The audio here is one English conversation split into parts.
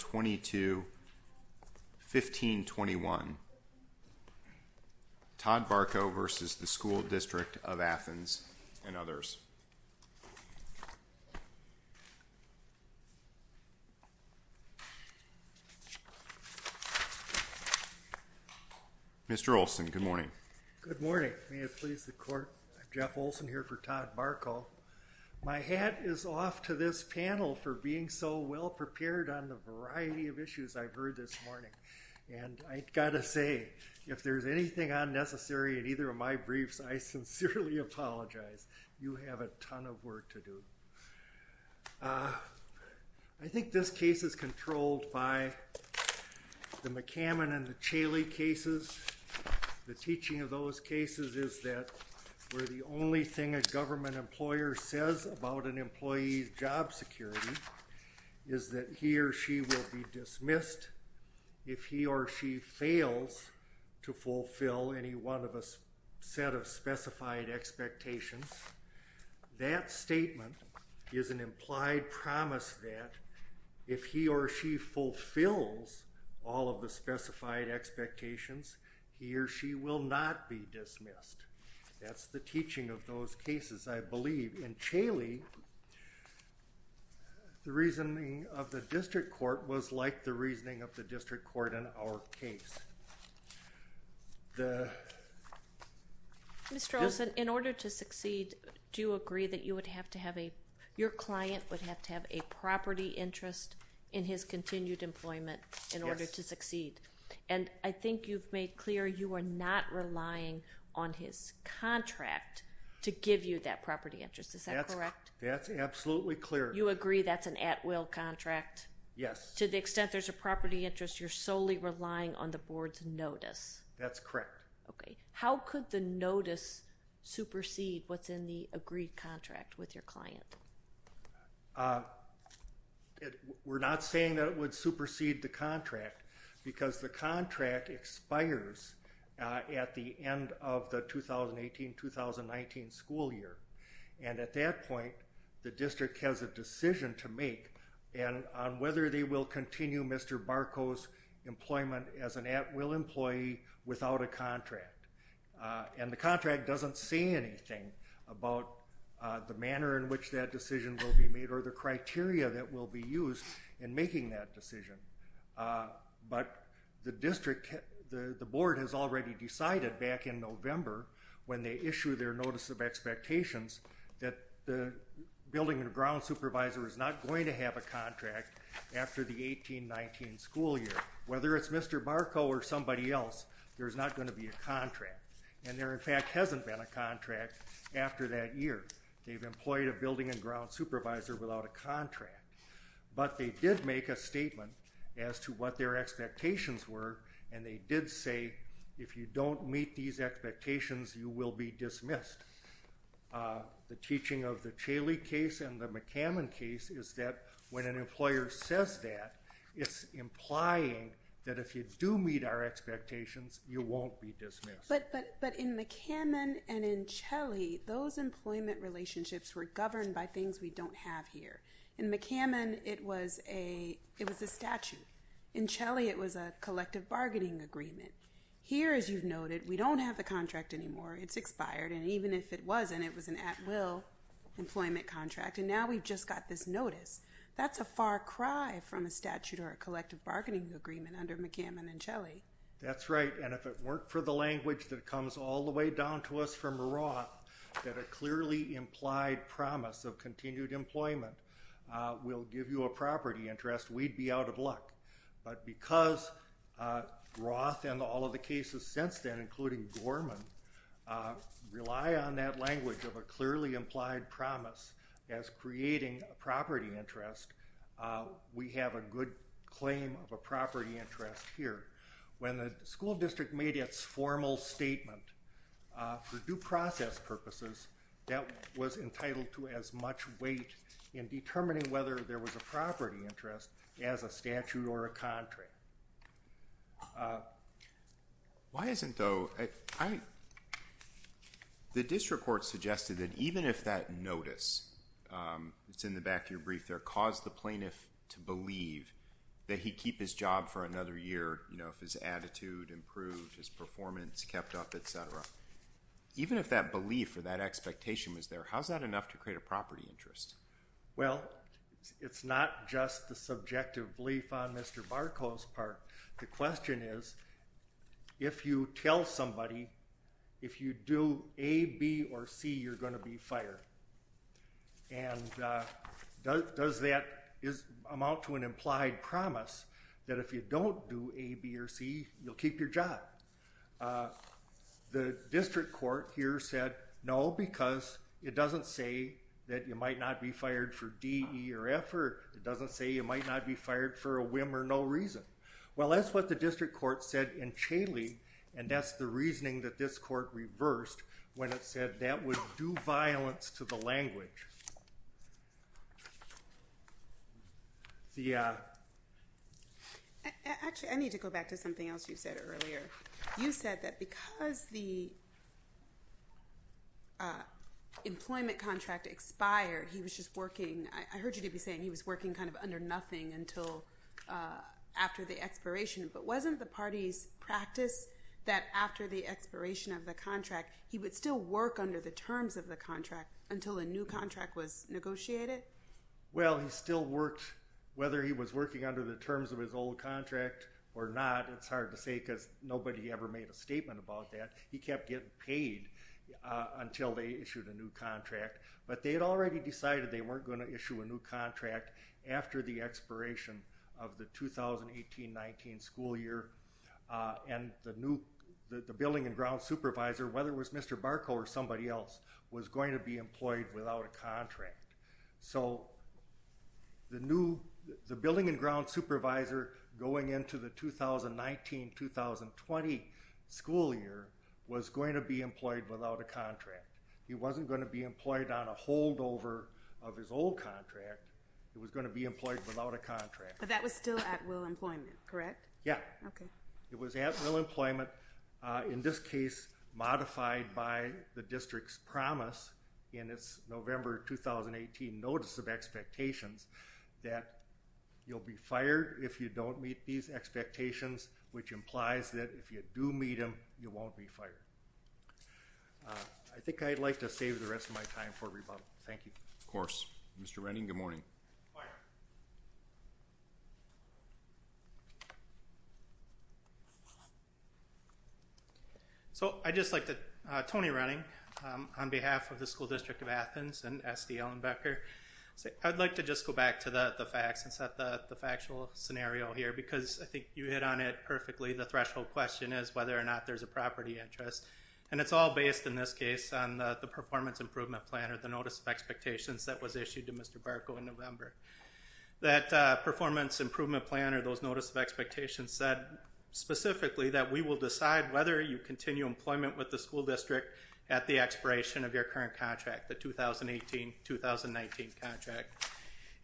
1521, Todd Barkow v. School District of Athens, and others. Mr. Olson, good morning. Good morning. May it please the Court, I'm Jeff Olson here for the School District of Athens, and I'm here to talk to you about a variety of issues I've heard this morning. And I've got to say, if there's anything unnecessary in either of my briefs, I sincerely apologize. You have a ton of work to do. I think this case is controlled by the McCammon and the Chaley cases. The teaching of those cases is that where the only thing a government employer says about an employee's job security is that he or she will be dismissed if he or she fails to fulfill any one of a set of specified expectations, that statement is an implied promise that if he or she fulfills all of the specified expectations, he or she will not be dismissed. That's the teaching of those cases. The District Court was like the reasoning of the District Court in our case. Mr. Olson, in order to succeed, do you agree that your client would have to have a property interest in his continued employment in order to succeed? And I think you've made clear you are not relying on his contract to give you that property interest, is that correct? That's absolutely clear. You agree that's an at-will contract? Yes. To the extent there's a property interest, you're solely relying on the board's notice? That's correct. Okay. How could the notice supersede what's in the agreed contract with your client? We're not saying that it would supersede the contract, because the contract expires at the end of the 2018-2019 school year. And at that point, the district has a decision to make on whether they will continue Mr. Barco's employment as an at-will employee without a contract. And the contract doesn't say anything about the manner in which that decision will be made or the criteria that will be used in making that decision. But the district, the board, when they issue their notice of expectations, that the building and ground supervisor is not going to have a contract after the 2018-2019 school year. Whether it's Mr. Barco or somebody else, there's not going to be a contract. And there in fact hasn't been a contract after that year. They've employed a building and ground supervisor without a contract. But they did make a statement as to what their expectations were, and they did say, if you don't meet these expectations, you will be dismissed. The teaching of the Chaley case and the McCammon case is that when an employer says that, it's implying that if you do meet our expectations, you won't be dismissed. But in McCammon and in Chaley, those employment relationships were governed by things we don't have here. In McCammon, it was a statute. In Chaley, it was a collective bargaining agreement. Here, as you've noted, we don't have the contract anymore. It's expired. And even if it wasn't, it was an at-will employment contract. And now we've just got this notice. That's a far cry from a statute or a collective bargaining agreement under McCammon and Chaley. That's right. And if it weren't for the language that comes all the way down to us from Merage that a clearly implied promise of continued employment will give you a property interest, we'd be out of luck. But because Roth and all of the cases since then, including Gorman, rely on that language of a clearly implied promise as creating a property interest, we have a good claim of a property interest here. When the school district made its formal statement for due process purposes, that was entitled to as much weight in determining whether there was a property interest as a statute or a contract. The district court suggested that even if that notice, it's in the back of your brief there, caused the plaintiff to believe that he'd keep his job for another year if his attitude improved, his performance kept up, et cetera, even if that belief or that expectation was there, how's that enough to create a property interest? Well, it's not just the subjective belief on Mr. Barkow's part. The question is, if you tell somebody if you do A, B, or C, you're going to be fired. And does that amount to an implied promise that if you don't do A, B, or C, you'll keep your job? The district court here said, no, because it doesn't say that you might not be fired for D, E, or F, or it doesn't say you might not be fired for a whim or no reason. Well, that's what the district court said in Chaley, and that's the reasoning that this court reversed when it said that would do violence to the language. Actually, I need to go back to something else you said earlier. You said that because the employment contract expired, he was just working, I heard you to be saying he was working kind of under nothing until after the expiration, but wasn't the party's practice that after the expiration of the contract, he would still work under the terms of the contract until a new contract was negotiated? Well, he still worked, whether he was working under the terms of his old contract or not, it's hard to say because nobody ever made a statement about that. He kept getting paid until they issued a new contract, but they had already decided they weren't going to issue a new contract after the expiration of the 2018-19 school year, and the new, the building and ground supervisor, whether it was Mr. Barkow or somebody else, was going to be employed without a contract. So, the new, the building and ground supervisor going into the 2019-2020 school year was going to be employed without a contract. He wasn't going to be employed on a holdover of his old contract. He was going to be employed without a contract. That was still at will employment, correct? Yeah. Okay. It was at will employment. In this case, modified by the district's promise in its November 2018 notice of expectations that you'll be fired if you don't meet these expectations, which implies that if you do meet them, you won't be fired. I think I'd like to save the rest of my time for rebuttal. Thank you. Of course. Mr. Renning, good morning. Good morning. So, I'd just like to, Tony Renning, on behalf of the School District of Athens and S.D. Ellenbecker, I'd like to just go back to the facts and set the factual scenario here, because I think you hit on it perfectly. The threshold question is whether or not there's a property interest, and it's all based, in this case, on the performance improvement plan or the notice of expectations here. That performance improvement plan or those notice of expectations said specifically that we will decide whether you continue employment with the school district at the expiration of your current contract, the 2018-2019 contract.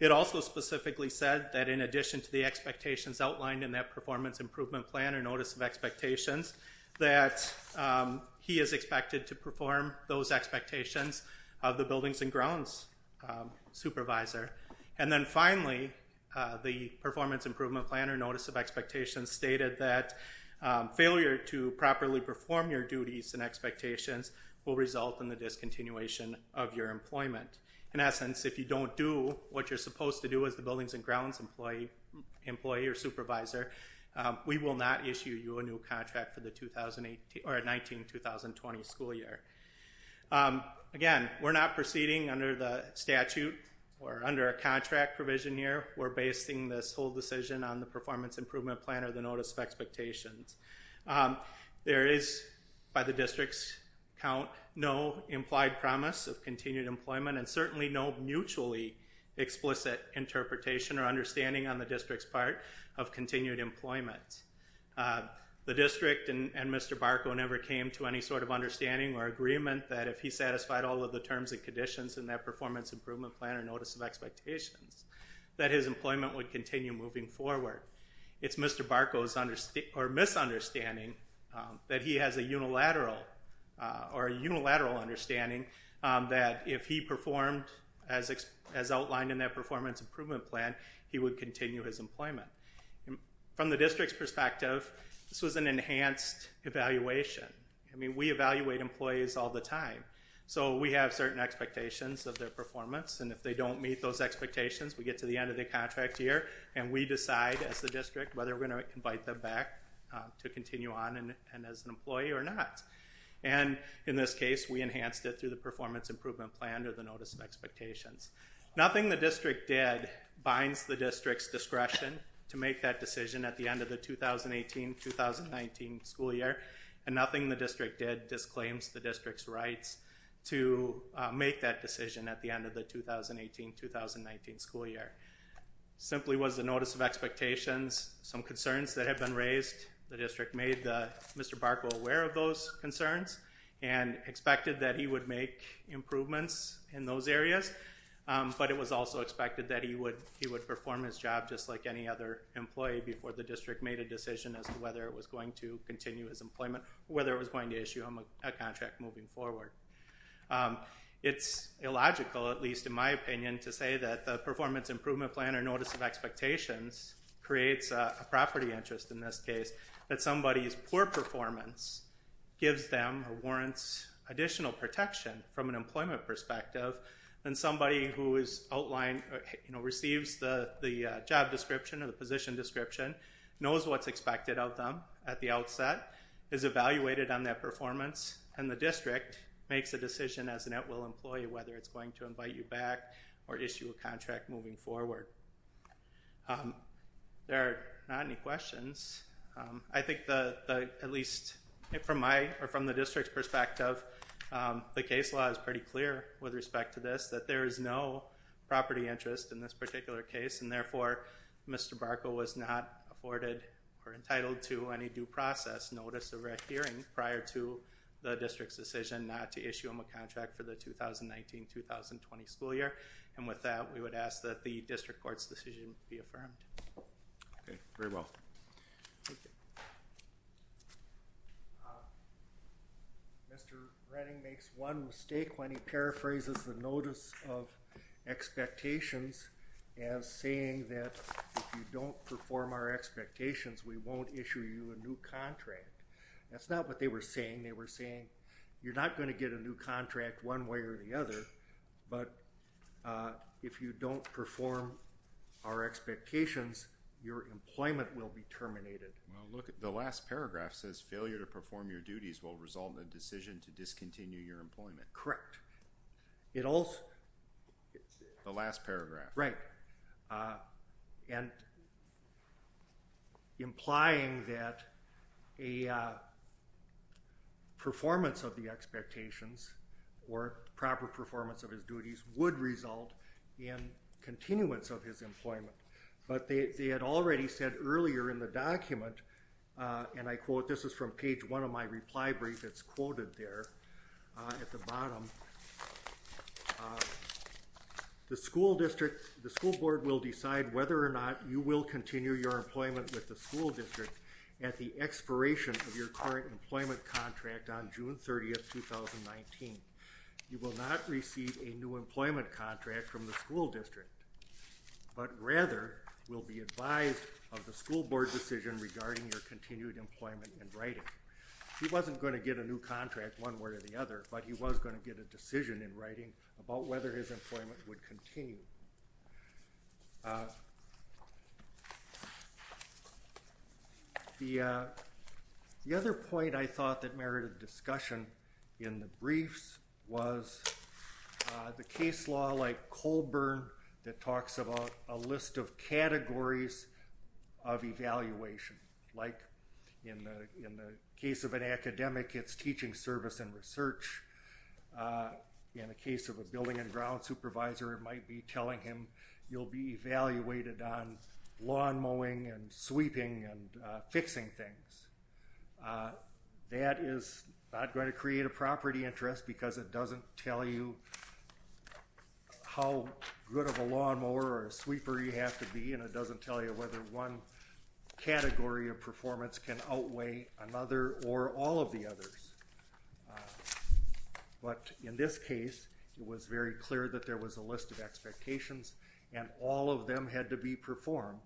It also specifically said that in addition to the expectations outlined in that performance improvement plan or notice of expectations, that he is expected to perform those expectations of the buildings and grounds supervisor. And then finally, the performance improvement plan or notice of expectations stated that failure to properly perform your duties and expectations will result in the discontinuation of your employment. In essence, if you don't do what you're supposed to do as the buildings and grounds employee or supervisor, we will not issue you a new building under the statute or under a contract provision here. We're basing this whole decision on the performance improvement plan or the notice of expectations. There is, by the district's count, no implied promise of continued employment and certainly no mutually explicit interpretation or understanding on the district's part of continued employment. The district and Mr. Barco never came to any sort of understanding or agreement that if he satisfied all of the conditions in that performance improvement plan or notice of expectations, that his employment would continue moving forward. It's Mr. Barco's misunderstanding that he has a unilateral understanding that if he performed as outlined in that performance improvement plan, he would continue his employment. From the district's perspective, this was an enhanced evaluation. We evaluate employees all the time. We have certain expectations of their performance and if they don't meet those expectations, we get to the end of the contract year and we decide as the district whether we're going to invite them back to continue on as an employee or not. In this case, we enhanced it through the performance improvement plan or the notice of expectations. Nothing the district did binds the district's discretion to make that decision at the end of the 2018-2019 school year. Simply was the notice of expectations, some concerns that have been raised. The district made Mr. Barco aware of those concerns and expected that he would make improvements in those areas, but it was also expected that he would perform his job just like any other employee before the district made a decision as to whether it was going to continue his employment or whether it was going to issue him a contract moving forward. It's illogical, at least in my opinion, to say that the performance improvement plan or notice of expectations creates a property interest in this case that somebody's poor performance gives them or warrants additional protection from an employment perspective than somebody who receives the job description or the position description, knows what's expected of them at the outset, is evaluated on that performance, and the district makes a decision as an at-will employee whether it's going to invite you back or issue a contract moving forward. There are not any questions. I think at least from the district's perspective, the case law is pretty clear with respect to this, that there is no property interest in this particular case, and therefore, Mr. Barco was not afforded or entitled to any due process notice of adhering prior to the district's decision not to issue him a contract for the 2019-2020 school year, and with that, we would ask that the district court's decision be affirmed. Okay, very well. Mr. Redding makes one mistake when he paraphrases the notice of expectations as saying that if you don't perform our expectations, we won't issue you a new contract. That's not what they were saying. They were saying you're not going to get a new contract one way or the other, but if you don't perform our expectations, your employment will be terminated. Well, look, the last paragraph says failure to perform your duties will result in a decision to discontinue your employment. Correct. The last paragraph. Right, and implying that a performance of the expectations or proper performance of his duties would result in continuance of his employment, but they had already said earlier in the document, and I quote, this is from page one of my reply brief, it's quoted there at the bottom. The school district, the school board will decide whether or not you will continue your employment with the school district at the expiration of your current employment contract on June 30th, 2019. You will not receive a new employment contract from the school district, but rather will be advised of the school board decision regarding your continued employment in writing. He wasn't going to get a new contract one way or the other, but he was going to get a decision in writing about whether his employment would continue. The other point I thought that merited discussion in the briefs was the case law like Colburn that talks about a list of categories of evaluation, like in the case of an academic, it's teaching service and research. In the case of a building and ground supervisor, it might be telling him you'll be evaluated on lawn mowing and sweeping and fixing things. That is not going to create a property interest because it doesn't tell you how good of a lawnmower or sweeper you have to be and it doesn't tell you whether one category of performance can outweigh another or all of the others. But in this case, it was very clear that there was a list of expectations and all of them had to be performed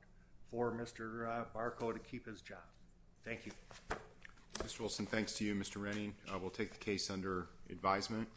for Mr. Barco to keep his job. Thank you. Mr. Renning, we'll take the case under advisement.